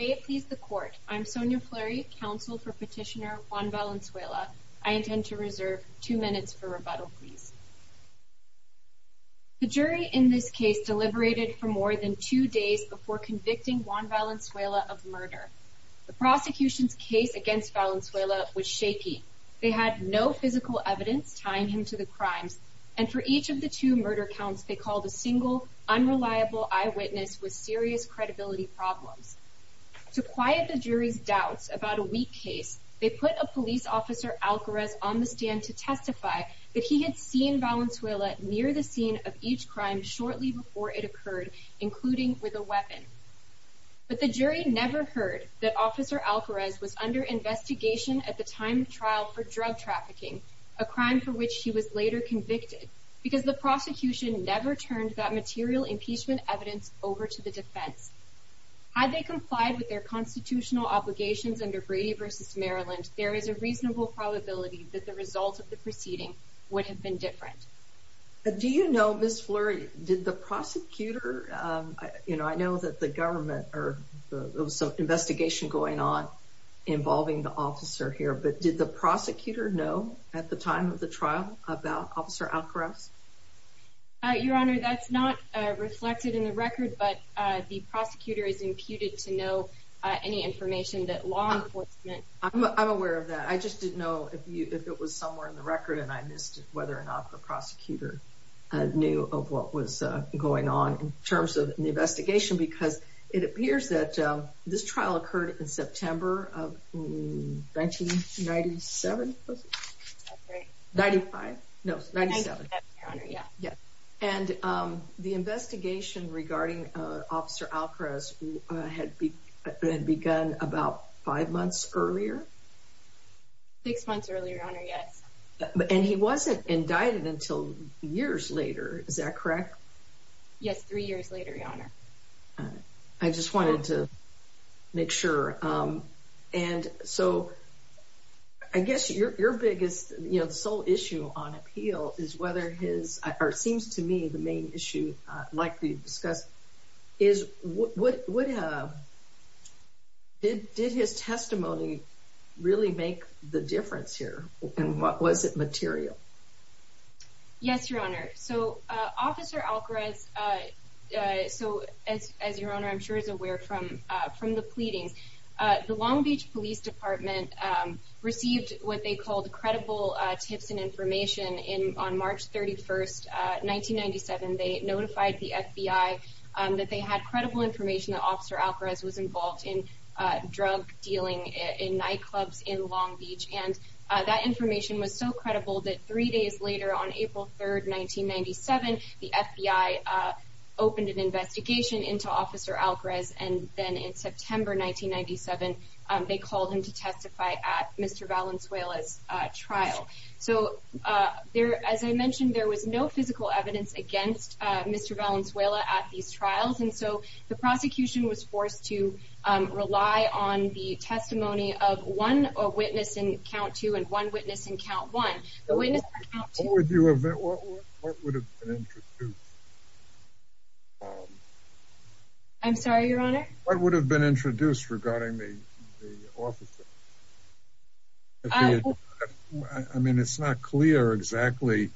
May it please the court. I'm Sonia Fleury, counsel for petitioner Juan Valenzuela. I intend to reserve two minutes for rebuttal please. The jury in this case deliberated for more than two days before convicting Juan Valenzuela of murder. The prosecution's case against Valenzuela was shaky. They had no physical evidence tying him to the crimes and for each of the two murder counts they called a single unreliable eyewitness with serious credibility problems. To quiet the jury's doubts about a weak case, they put a police officer, Alcarez, on the stand to testify that he had seen Valenzuela near the scene of each crime shortly before it occurred, including with a weapon. But the jury never heard that officer Alcarez was under investigation at the time of trial for drug trafficking, a crime for which he was later convicted, because the prosecution never turned that material impeachment evidence over to the defense. Had they complied with their constitutional obligations under Brady v. Maryland, there is a reasonable probability that the result of the proceeding would have been different. Do you know, Ms. Fleury, did the prosecutor, you know, I know that the government or there was some investigation going on involving the officer here, but did the prosecutor know at the time of the trial about officer Alcarez? Your Honor, that's not reflected in the record, but the prosecutor is imputed to know any information that law enforcement. I'm aware of that. I just didn't know if it was somewhere in the record and I missed whether or not the prosecutor knew of what was going on in terms of the investigation, because it appears that this trial occurred in September of 1997. That's right. 95? No, 97. Yeah. And the investigation regarding officer Alcarez had begun about five months earlier. Six months earlier, Your Honor, yes. And he wasn't indicted until years later, is that correct? Yes, three years later, Your Honor. All right. I just wanted to make sure. And so, I guess your biggest, you know, sole issue on appeal is whether his, or it seems to me the main issue likely discussed, is did his testimony really make the difference here? And was it material? Yes, Your Honor. So, officer Alcarez, so as Your Honor, I'm sure is aware from the pleadings, the Long Beach Police Department received what they called credible tips and information on March 31st, 1997. They notified the FBI that they had credible information that officer Alcarez was involved in drug dealing in nightclubs in Long Beach. And that information was so credible that three days later on April 3rd, 1997, the FBI opened an investigation into officer Alcarez. And then in September 1997, they called him to testify at Mr. Valenzuela's trial. So, as I mentioned, there was no physical evidence against Mr. Valenzuela at these trials. And so, the prosecution was forced to rely on the testimony of one witness in count two and one in count two. What would have been introduced? I'm sorry, Your Honor? What would have been introduced regarding the officer? I mean, it's not clear exactly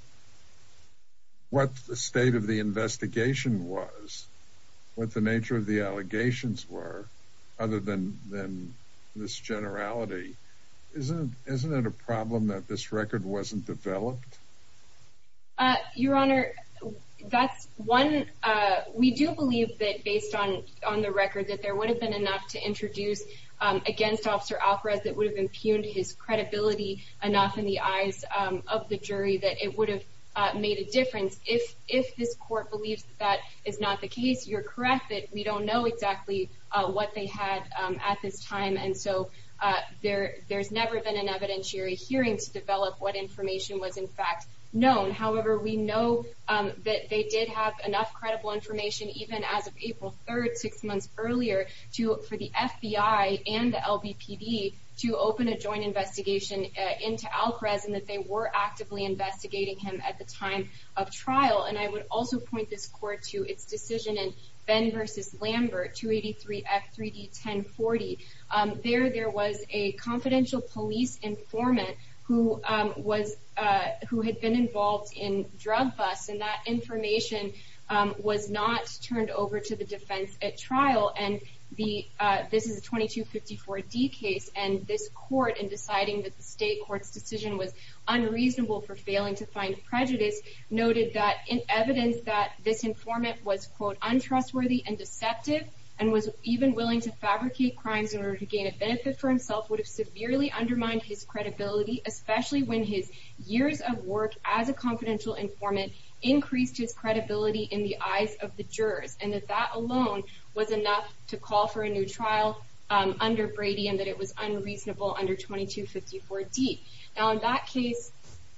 what the state of the investigation was, what the nature of the allegations were, other than this generality. Isn't it a problem that this record wasn't developed? Your Honor, that's one. We do believe that based on the record that there would have been enough to introduce against officer Alcarez that would have impugned his credibility enough in the eyes of the jury that it would have made a difference. If this court believes that is not the case, you're correct that we don't know exactly what they had at this time. And so, there's never been an evidentiary hearing to develop what information was, in fact, known. However, we know that they did have enough credible information, even as of April 3rd, six months earlier, for the FBI and the LBPD to open a joint investigation into Alcarez and that they were actively investigating him at the time of trial. And I would also point this court to its decision in Fenn v. Lambert, 283-F3D-1040. There, there was a confidential police informant who had been involved in drug busts, and that information was not turned over to the defense at trial. And this is a 2254-D case, and this court, in deciding that the state court's decision was unreasonable for failing to find prejudice, noted that in evidence that this informant was, quote, untrustworthy and deceptive and was even willing to fabricate crimes in order to gain a benefit for himself would have severely undermined his credibility, especially when his years of work as a confidential informant increased his credibility in the eyes of the jurors, and that that alone was enough to call for a new trial under Brady and that it was unreasonable under 2254-D. Now, in that case,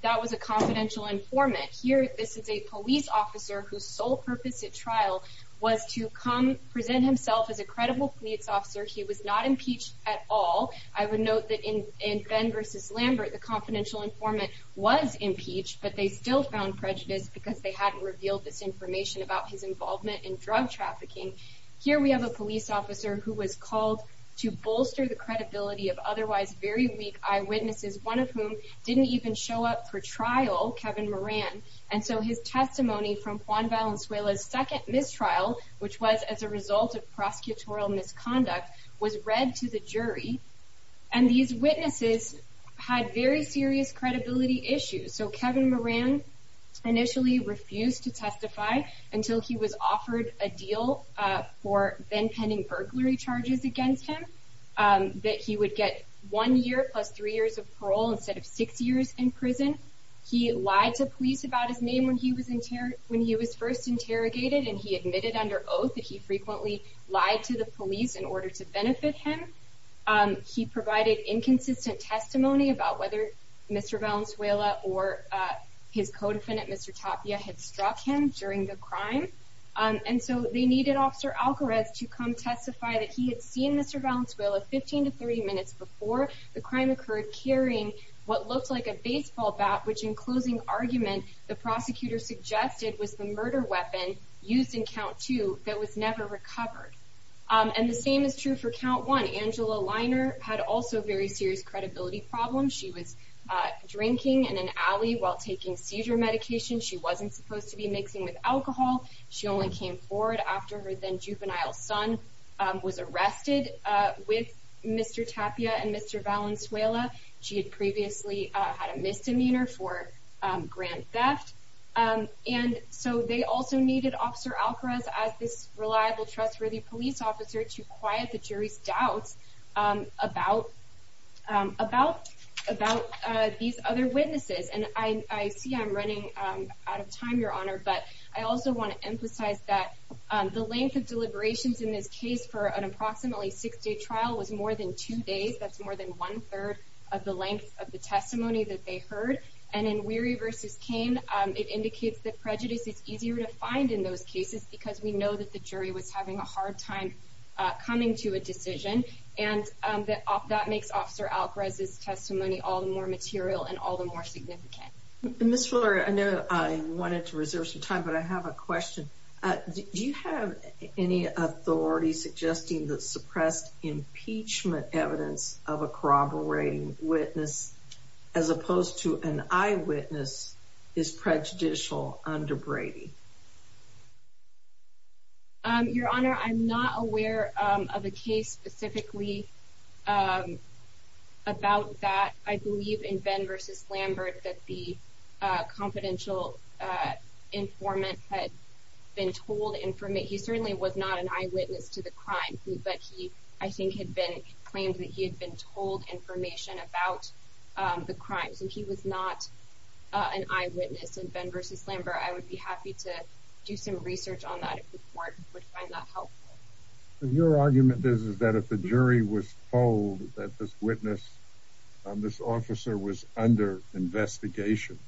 that was a confidential informant. Here, this is a police officer whose sole purpose at trial was to come present himself as a credible police officer. He was not impeached at all. I would note that in Fenn v. Lambert, the confidential informant was impeached, but they still found prejudice because they hadn't revealed this information about his involvement in drug trafficking. Here, we have a police officer who was called to bolster the credibility of otherwise very weak eyewitnesses, one of whom didn't even show up for trial, Kevin Moran, and so his testimony from Juan Valenzuela's second mistrial, which was as a result of prosecutorial misconduct, was read to the jury, and these witnesses had very serious credibility issues. So, Kevin Moran initially refused to that he would get one year plus three years of parole instead of six years in prison. He lied to police about his name when he was first interrogated, and he admitted under oath that he frequently lied to the police in order to benefit him. He provided inconsistent testimony about whether Mr. Valenzuela or his co-defendant, Mr. Tapia, had struck him during the crime, and so they needed Officer Alcarez to come testify that he had seen Mr. Valenzuela 15 to 30 minutes before the crime occurred, carrying what looked like a baseball bat, which in closing argument, the prosecutor suggested was the murder weapon used in count two that was never recovered. And the same is true for count one. Angela Liner had also very serious credibility problems. She was drinking in an alley while taking seizure medication. She wasn't supposed to be mixing with alcohol. She only came forward after her then-juvenile son was arrested with Mr. Tapia and Mr. Valenzuela. She had previously had a misdemeanor for grand theft, and so they also needed Officer Alcarez as this reliable, trustworthy police officer to quiet the jury's doubts about these other witnesses. And I see I'm running out of time, Your Honor, but I also want to emphasize that the length of deliberations in this case for an approximately six-day trial was more than two days. That's more than one-third of the length of the testimony that they heard. And in Weary v. Cain, it indicates that prejudice is easier to find in those cases because we know that the jury was having a hard time coming to a decision, and that makes Officer Alcarez's testimony all the more material and all the more significant. Ms. Fuller, I know I wanted to reserve some time, but I have a question. Do you have any authority suggesting that suppressed impeachment evidence of a corroborating witness as opposed to an eyewitness is prejudicial under Brady? Your Honor, I'm not aware of a case specifically about that. I believe in Benn v. Lambert that the confidential informant had been told information. He certainly was not an eyewitness to the crime, but he, I think, had been claimed that he had been told information about the crime. So he was not an eyewitness in Benn v. Lambert. I would be happy to do some research on that if the court would find that helpful. Your argument is that if the jury was told that this witness, this officer, was under investigation,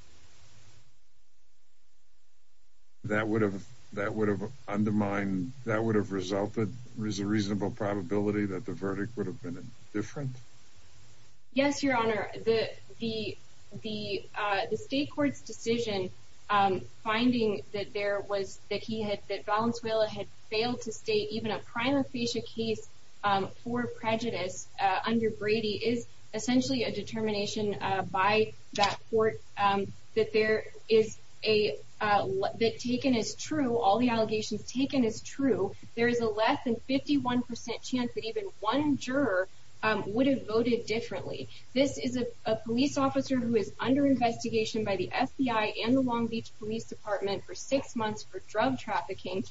that would have undermined, that would have resulted, there's a reasonable probability that the verdict would have been different? Yes, Your Honor. The state court's decision finding that Valenzuela had failed to state even a prima facie case for prejudice under Brady is essentially a determination by that court that taken as true, all the allegations taken as true, there is a less than 51 percent chance that even one juror would have voted differently. This is a police officer who is under investigation by the FBI and the Long Beach Police Department for six months for drug trafficking,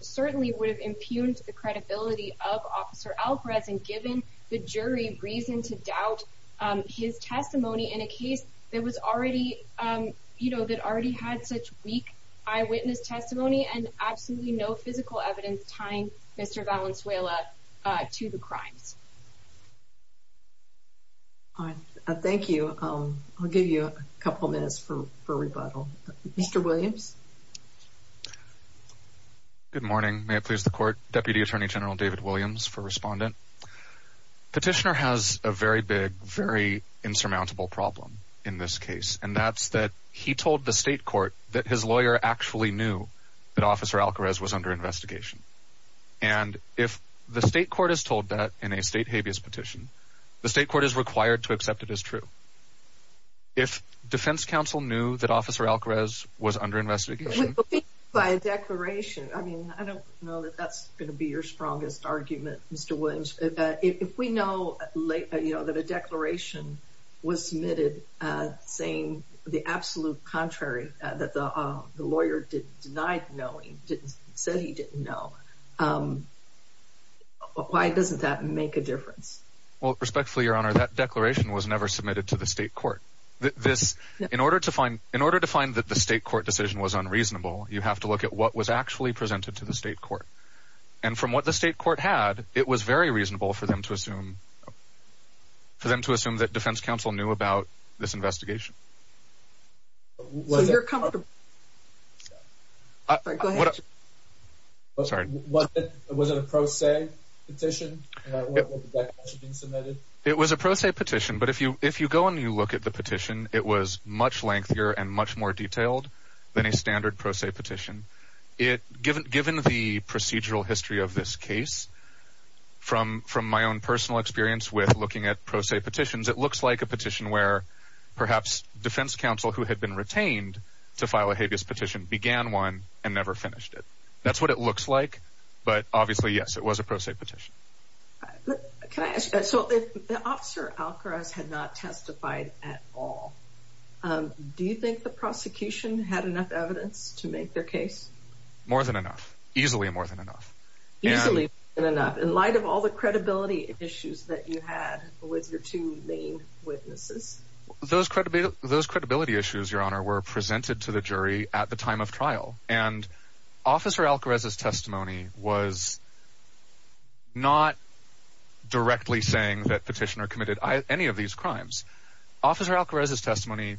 certainly would have impugned the credibility of Officer Alvarez and given the jury reason to doubt his testimony in a case that already had such weak eyewitness testimony and absolutely no physical evidence tying Mr. Valenzuela to the crimes. All right, thank you. I'll give you a couple minutes for rebuttal. Mr. Williams? Good morning. May it please the court. Deputy Attorney General David Williams for Respondent. Petitioner has a very big, very insurmountable problem in this case, and that's that he told the state court that his lawyer actually knew that Officer Alvarez was under investigation. And if the state court is told that in a state habeas petition, the state court is required to accept it as true. If defense counsel knew that Officer Alvarez was under investigation by a declaration, I mean, I don't know that that's going to be your strongest argument, Mr. Williams. If we know that a declaration was submitted saying the absolute contrary, that the lawyer denied knowing, said he didn't know, why doesn't that make a difference? Well, respectfully, Your Honor, that declaration was never submitted to the state court. In order to find that the state court decision was unreasonable, you have to look at what was actually presented to the state court. And from what the state court had, it was very reasonable for them to assume that defense counsel knew about this investigation. So you're coming to- Go ahead. Sorry. Was it a pro se petition? Was the declaration being submitted? It was a pro se petition, but if you go and you look at the petition, it was much lengthier and much more detailed than a standard pro se petition. Given the procedural history of this case, from my own personal experience with looking at pro se petitions, it looks like a petition where perhaps defense counsel who had been retained to file a habeas petition began one and never finished it. That's what it looks like, but obviously, yes, it was a pro se petition. Can I ask, so if Officer Alcaraz had not testified at all, do you think the prosecution had enough evidence to make their case? More than enough. Easily more than enough. Easily more than enough. In light of all the credibility issues that you had with your two main witnesses. Those credibility issues, Your Honor, were presented to the jury at the time of trial. And Officer Alcaraz's testimony was not directly saying that Petitioner committed any of these crimes. Officer Alcaraz's testimony,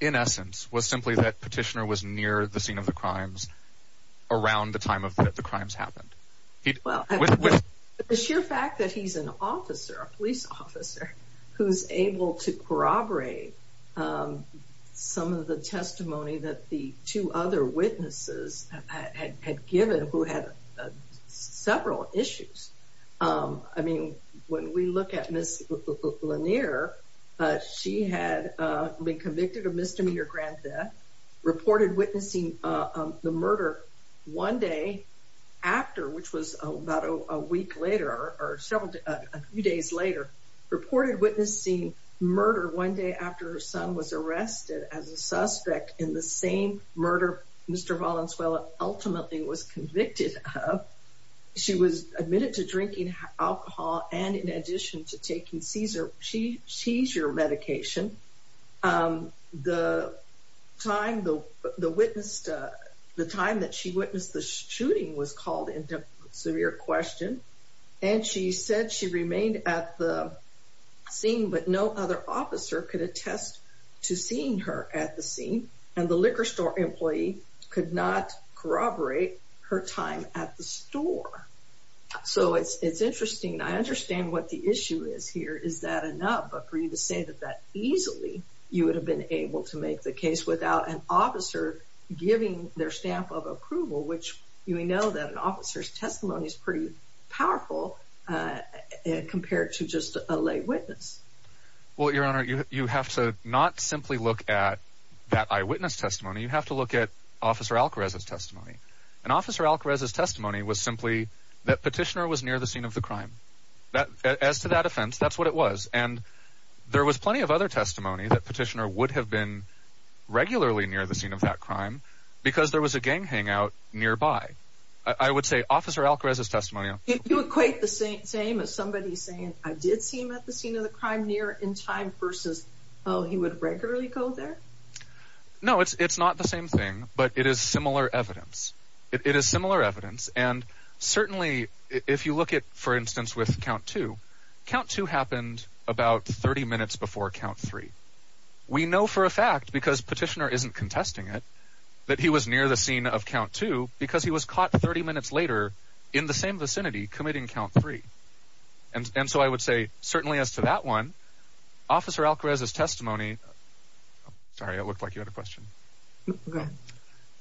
in essence, was simply that Petitioner was near the scene of the crimes around the time that the crimes happened. The sheer fact that he's an officer, a police officer, who's able to corroborate some of the testimony that the two other witnesses had given who had several issues. I mean, when we look at Ms. Lanier, she had been convicted of misdemeanor grand theft, reported witnessing the murder one day after, which was about a week later or a few days later, reported witnessing murder one day after her son was arrested as a suspect in the same murder Mr. Valenzuela ultimately was convicted of. She was admitted to drinking alcohol and in addition to seizure medication, the time that she witnessed the shooting was called into severe question. And she said she remained at the scene, but no other officer could attest to seeing her at the scene. And the liquor store employee could not corroborate her time at the store. So it's that enough, but for you to say that that easily, you would have been able to make the case without an officer giving their stamp of approval, which you may know that an officer's testimony is pretty powerful compared to just a lay witness. Well, Your Honor, you have to not simply look at that eyewitness testimony. You have to look at Officer Alcarez's testimony. And Officer Alcarez's testimony was simply that Petitioner was near the scene of the crime. As to that offense, that's what it was. And there was plenty of other testimony that Petitioner would have been regularly near the scene of that crime because there was a gang hangout nearby. I would say Officer Alcarez's testimony... Did you equate the same as somebody saying, I did see him at the scene of the crime near in time versus, oh, he would regularly go there? No, it's not the same thing, but it is similar evidence. It is similar evidence. And certainly if you look at, for example, what happened about 30 minutes before count three, we know for a fact because Petitioner isn't contesting it, that he was near the scene of count two because he was caught 30 minutes later in the same vicinity committing count three. And so I would say certainly as to that one, Officer Alcarez's testimony... Sorry, it looked like you had a question.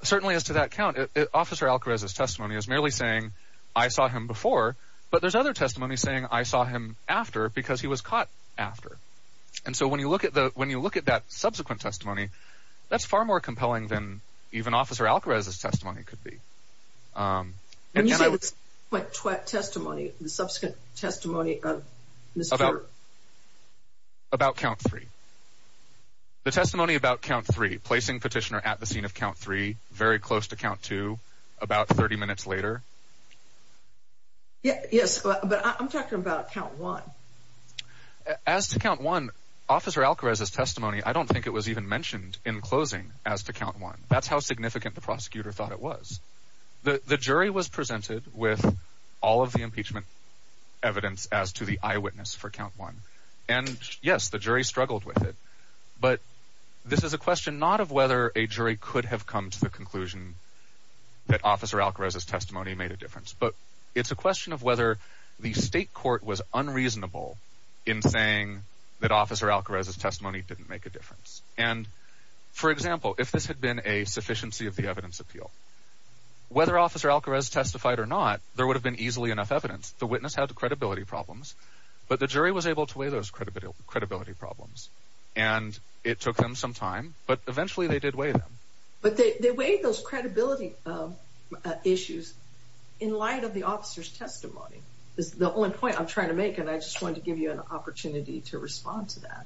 Certainly as to that count, Officer Alcarez's testimony is merely saying, I saw him before, but there's other testimony saying, I saw him after because he was caught after. And so when you look at that subsequent testimony, that's far more compelling than even Officer Alcarez's testimony could be. When you say the subsequent testimony, the subsequent testimony of Mr. About count three. The testimony about count three, placing Petitioner at the scene of count three, very close to count two, about 30 minutes later. Yes, but I'm talking about count one. As to count one, Officer Alcarez's testimony, I don't think it was even mentioned in closing as to count one. That's how significant the prosecutor thought it was. The jury was presented with all of the impeachment evidence as to the eyewitness for count one. And yes, the jury struggled with it. But this is a question not of whether a jury could have come to the conclusion that Officer Alcarez's testimony made a difference. But it's a question of whether the state court was unreasonable in saying that Officer Alcarez's testimony didn't make a difference. And for example, if this had been a sufficiency of the evidence appeal, whether Officer Alcarez testified or not, there would have been easily enough evidence. The witness had the credibility problems, but the jury was able to weigh those But they weighed those credibility issues in light of the officer's testimony. That's the only point I'm trying to make, and I just wanted to give you an opportunity to respond to that.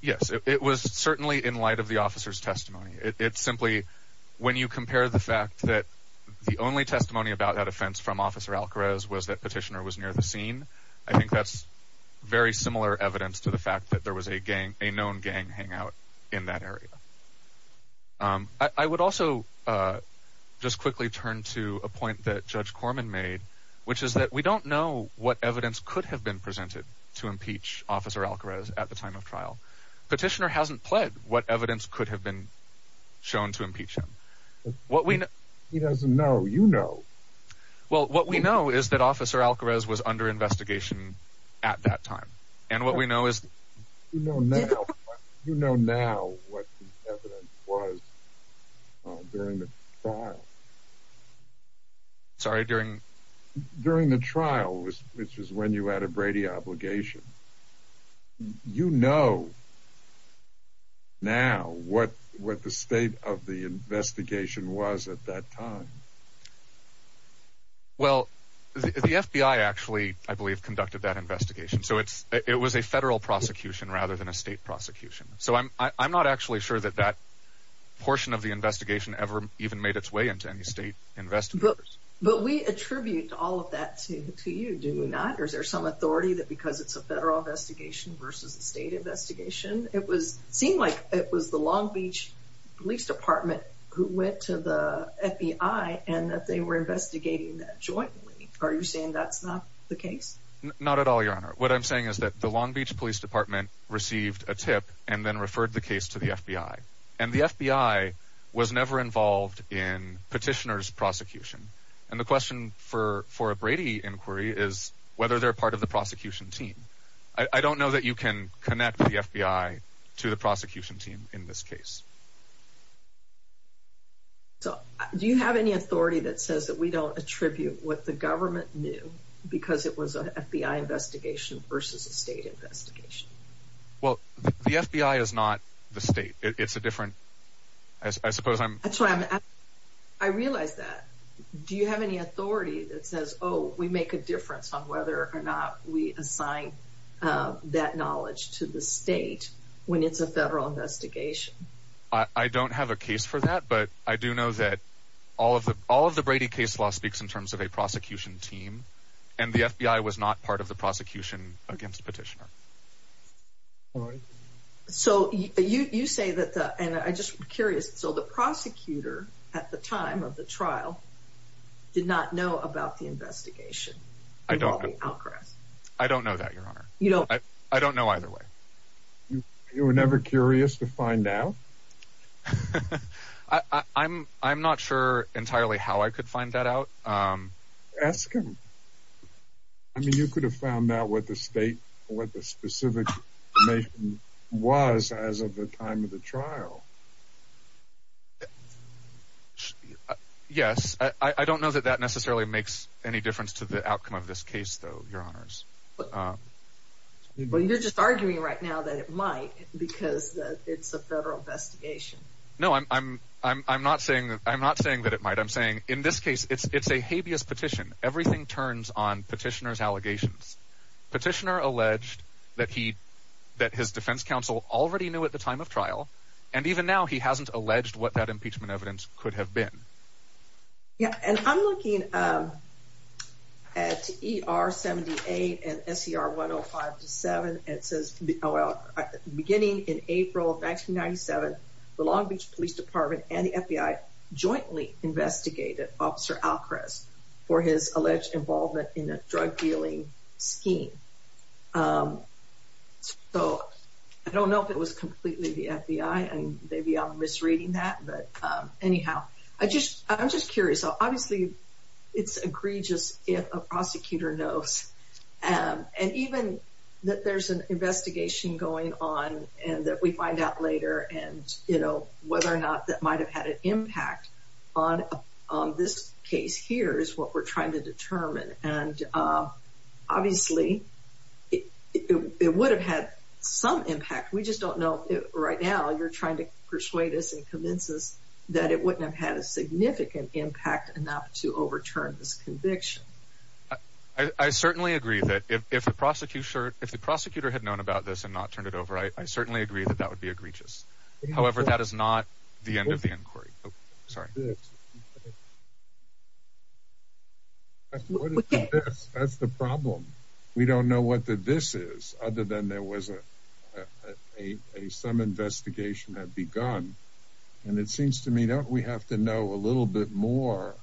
Yes, it was certainly in light of the officer's testimony. It's simply, when you compare the fact that the only testimony about that offense from Officer Alcarez was that Petitioner was near the scene, I think that's very similar evidence to the fact that there was a known gang hangout in that area. I would also just quickly turn to a point that Judge Corman made, which is that we don't know what evidence could have been presented to impeach Officer Alcarez at the time of trial. Petitioner hasn't pled what evidence could have been shown to impeach him. He doesn't know. You know. Well, what we know is that Officer Alcarez was under investigation at that time, and what we know is... You know now what the evidence was during the trial. Sorry, during? During the trial, which is when you had a Brady obligation. You know now what the state of the investigation was at that time. Well, the FBI actually, I believe, conducted that investigation. So it was a federal prosecution rather than a state prosecution. So I'm not actually sure that that portion of the investigation ever even made its way into any state investigators. But we attribute all of that to you, do we not? Or is there some authority that because it's a federal investigation versus a state investigation? It seemed like it was the Long Beach Police Department who went to the FBI and they were investigating that jointly. Are you saying that's not the case? Not at all, Your Honor. What I'm saying is that the Long Beach Police Department received a tip and then referred the case to the FBI. And the FBI was never involved in Petitioner's prosecution. And the question for a Brady inquiry is whether they're part of the prosecution team. I don't know that you can connect the FBI to the prosecution team in this way. Do you have any authority that says that we don't attribute what the government knew because it was an FBI investigation versus a state investigation? Well, the FBI is not the state. It's a different... I suppose I'm... That's why I'm asking. I realize that. Do you have any authority that says, oh, we make a difference on whether or not we assign that knowledge to the state when it's a federal investigation? I don't have a case for that. But I do know that all of the Brady case law speaks in terms of a prosecution team. And the FBI was not part of the prosecution against Petitioner. So you say that... And I'm just curious. So the prosecutor at the time of the trial did not know about the investigation? I don't know that, Your Honor. I don't know either way. You were never curious to find out? I'm not sure entirely how I could find that out. Ask him. I mean, you could have found out what the state, what the specific information was as of the time of the trial. Yes. I don't know that that necessarily makes any difference to the outcome of this case, though, Your Honors. But you're just arguing right now that it might because it's a federal investigation. No, I'm not saying that it might. I'm saying in this case, it's a habeas petition. Everything turns on Petitioner's allegations. Petitioner alleged that his defense counsel already knew at the time of trial. And even now, he hasn't alleged what that impeachment evidence could have been. Yeah. And I'm looking at ER-78 and SER-105-7, and it says, well, beginning in April of 1997, the Long Beach Police Department and the FBI jointly investigated Officer Alcrest for his alleged involvement in a drug dealing scheme. So I don't know if it was completely the FBI, and maybe I'm misreading that. But anyhow, I'm just curious. So obviously, it's egregious if a prosecutor knows. And even that there's an investigation going on and that we find out later and, you know, whether or not that might have had an impact on this case here is what we're trying to determine. And obviously, it would have had some impact. We just don't know right now. You're trying to persuade us and convince us that it wouldn't have had a significant impact enough to overturn this conviction. I certainly agree that if the prosecutor had known about this and not turned it over, I certainly agree that that would be egregious. However, that is not the end of the inquiry. Sorry. That's the problem. We don't know what the this is, other than there was some investigation had begun. And it seems to me that we have to know a little bit more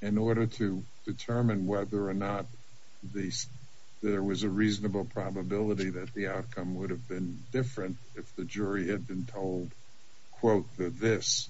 in order to determine whether or not there was a reasonable probability that the outcome would have been different if the jury had been told, quote, the this.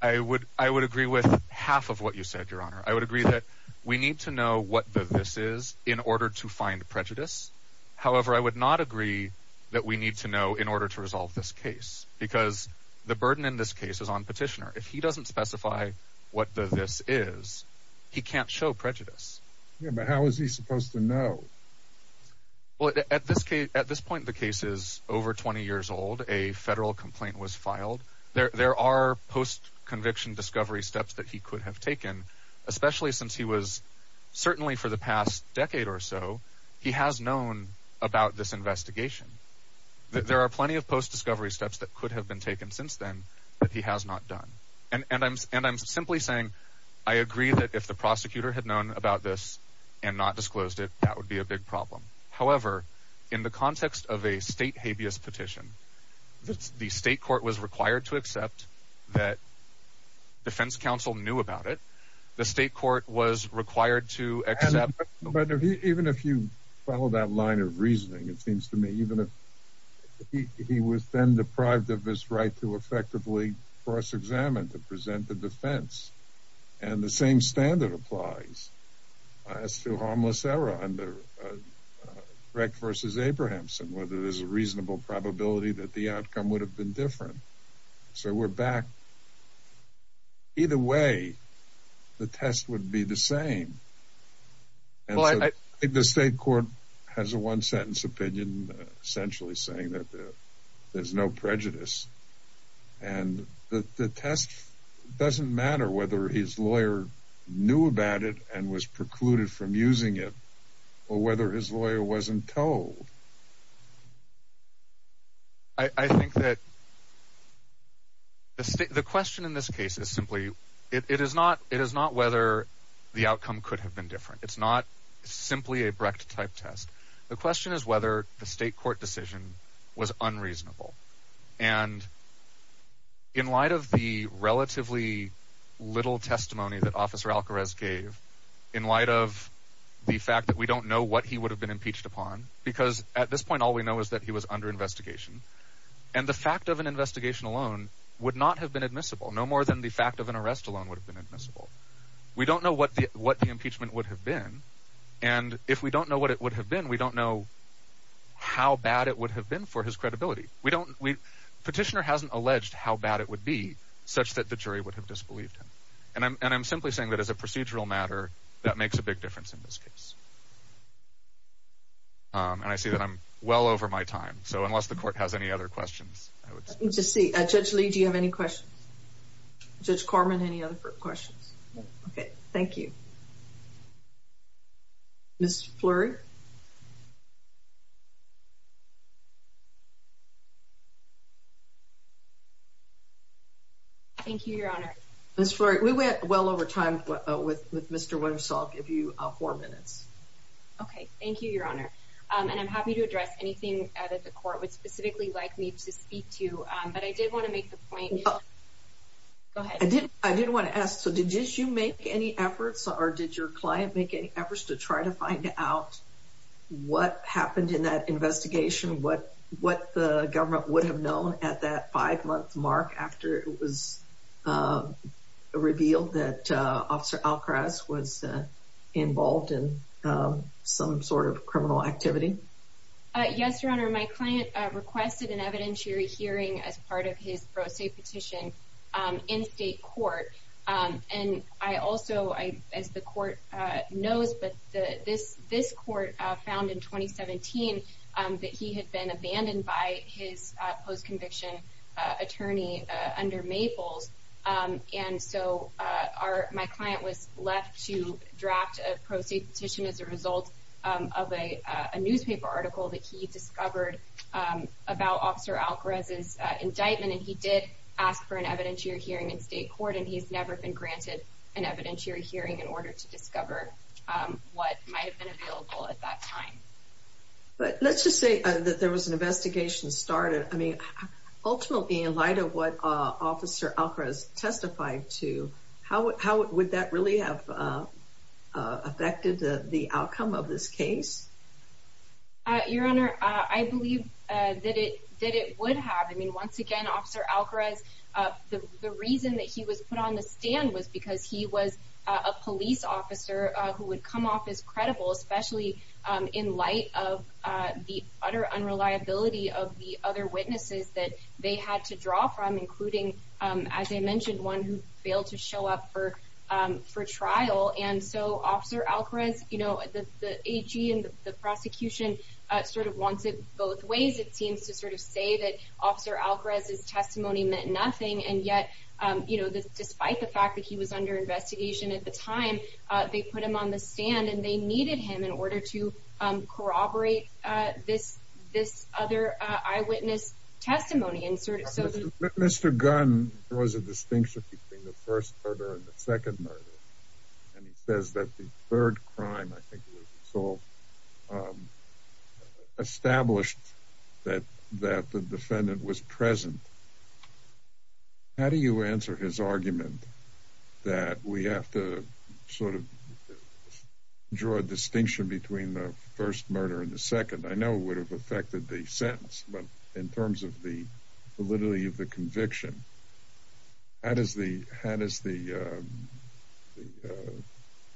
I would agree with half of what you said, Your Honor. I would agree that we need to know what this is in order to find prejudice. However, I would not agree that we need to know in order to resolve this case, because the burden in this case is on Petitioner. If he doesn't specify what the this is, he can't show prejudice. Yeah, but how is he supposed to know? Well, at this case, at this point, the case is over 20 years old. A federal complaint was filed there. There are post conviction discovery steps that he could have taken, especially since he was certainly for the past decade or so. He has known about this investigation. There are plenty of post discovery steps that could have been taken since then, but he has not done. And I'm and I'm simply saying I agree that if the prosecutor had known about this and not disclosed it, that would be a big problem. However, in the context of a state habeas petition, the state court was required to accept that Defense Council knew about it. The state court was required to accept. But even if you follow that line of reasoning, it seems to me even if he was then deprived of his right to effectively cross examine to present the defense and the same standard applies as to harmless error under rec versus Abrahamson, whether there's a reasonable probability that the outcome would have been different. So we're back. Either way, the test would be the same. The state court has a one sentence opinion, essentially saying that there's no prejudice and the test doesn't matter whether his lawyer knew about it and was precluded from using it or whether his lawyer wasn't told. I think that the question in this case is simply it is not. It is not whether the outcome could have been different. It's not simply a Brecht type test. The question is whether the state court decision was unreasonable. And in light of the relatively little testimony that Officer gave in light of the fact that we don't know what he would have been impeached upon, because at this point, all we know is that he was under investigation. And the fact of an investigation alone would not have been admissible, no more than the fact of an arrest alone would have been admissible. We don't know what the impeachment would have been. And if we don't know what it would have been, we don't know how bad it would have been for his credibility. Petitioner hasn't alleged how bad it would be such that the jury would have disbelieved him. And I'm simply saying that as a procedural matter, that makes a big difference in this case. And I see that I'm well over my time. So unless the court has any other questions, I would just see. Judge Lee, do you have any questions? Judge Corman, any other questions? Okay, thank you. Miss Fleury. Thank you, Your Honor. Miss Fleury, we went well over time with Mr. Wenner, so I'll give you four minutes. Okay, thank you, Your Honor. And I'm happy to address anything that the court would specifically like me to speak to. But I did want to make the point. Go ahead. I did want to ask, so did you make any efforts or did your client make any efforts to try to find out what happened in that investigation? What the government would have known at that five-month mark after it was revealed that Officer Alcraz was involved in some sort of criminal activity? Yes, Your Honor. My client requested an evidentiary hearing as part of his pro se petition in state court. And I also, as the court knows, but this court found in 2017 that he had been abandoned by his post-conviction attorney under Maples. And so my client was left to draft a pro se petition as a result of a newspaper article that he discovered about Officer Alcraz's evidentiary hearing in state court. And he's never been granted an evidentiary hearing in order to discover what might have been available at that time. But let's just say that there was an investigation started. I mean, ultimately, in light of what Officer Alcraz testified to, how would that really have affected the outcome of this case? Your Honor, I believe that it would have. I mean, once again, Officer Alcraz, the reason that he was put on the stand was because he was a police officer who would come off as credible, especially in light of the utter unreliability of the other witnesses that they had to draw from, including, as I mentioned, one who failed to show up for trial. And so, Officer Alcraz, you know, the AG and the prosecution sort of wants it both ways. It seems to sort of say that Officer Alcraz's testimony meant nothing. And yet, you know, despite the fact that he was under investigation at the time, they put him on the stand and they needed him in order to corroborate this other eyewitness testimony. Mr. Gunn draws a distinction between the first murder and the second murder. And he says that the third crime, I think, was resolved. Established that the defendant was present. How do you answer his argument that we have to sort of draw a distinction between the first murder and the second? I know it would have affected the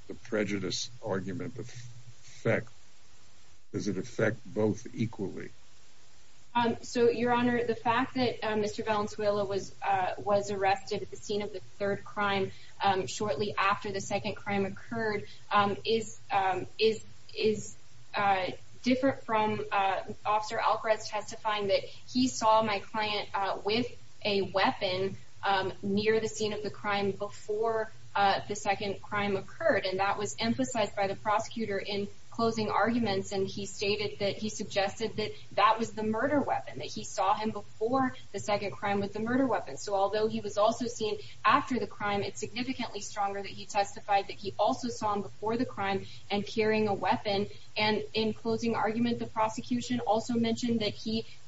the prejudice argument, but does it affect both equally? So, Your Honor, the fact that Mr. Valenzuela was arrested at the scene of the third crime shortly after the second crime occurred is different from Officer Alcraz testifying that he saw my client with a weapon near the scene of the crime before the second crime occurred. And that was emphasized by the prosecutor in closing arguments. And he stated that he suggested that that was the murder weapon, that he saw him before the second crime with the murder weapon. So, although he was also seen after the crime, it's significantly stronger that he testified that he also saw him before the crime and carrying a weapon. And in closing argument, the prosecution also mentioned that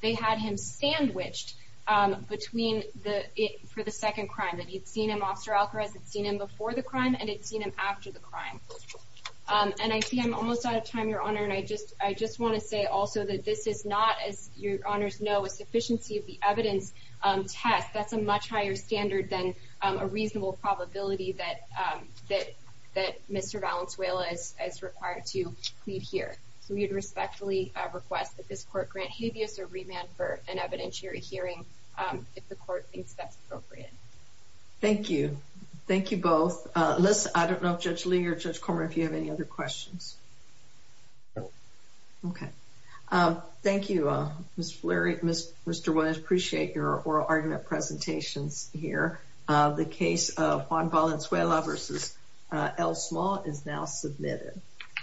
they had him sandwiched for the second crime. That he'd seen him, Officer Alcraz, had seen him before the crime and had seen him after the crime. And I see I'm almost out of time, Your Honor, and I just want to say also that this is not, as Your Honors know, a sufficiency of the evidence test. That's a much higher standard than a reasonable probability that Mr. Valenzuela is required to plead here. So, we'd respectfully request that this court grant habeas or remand for an evidentiary hearing if the court thinks that's appropriate. Thank you. Thank you both. I don't know if Judge Lee or Judge Cormer, if you have any other questions. Okay. Thank you, Mr. Williams. I appreciate your oral argument presentations here. The case of Juan Valenzuela v. L. Small is now submitted.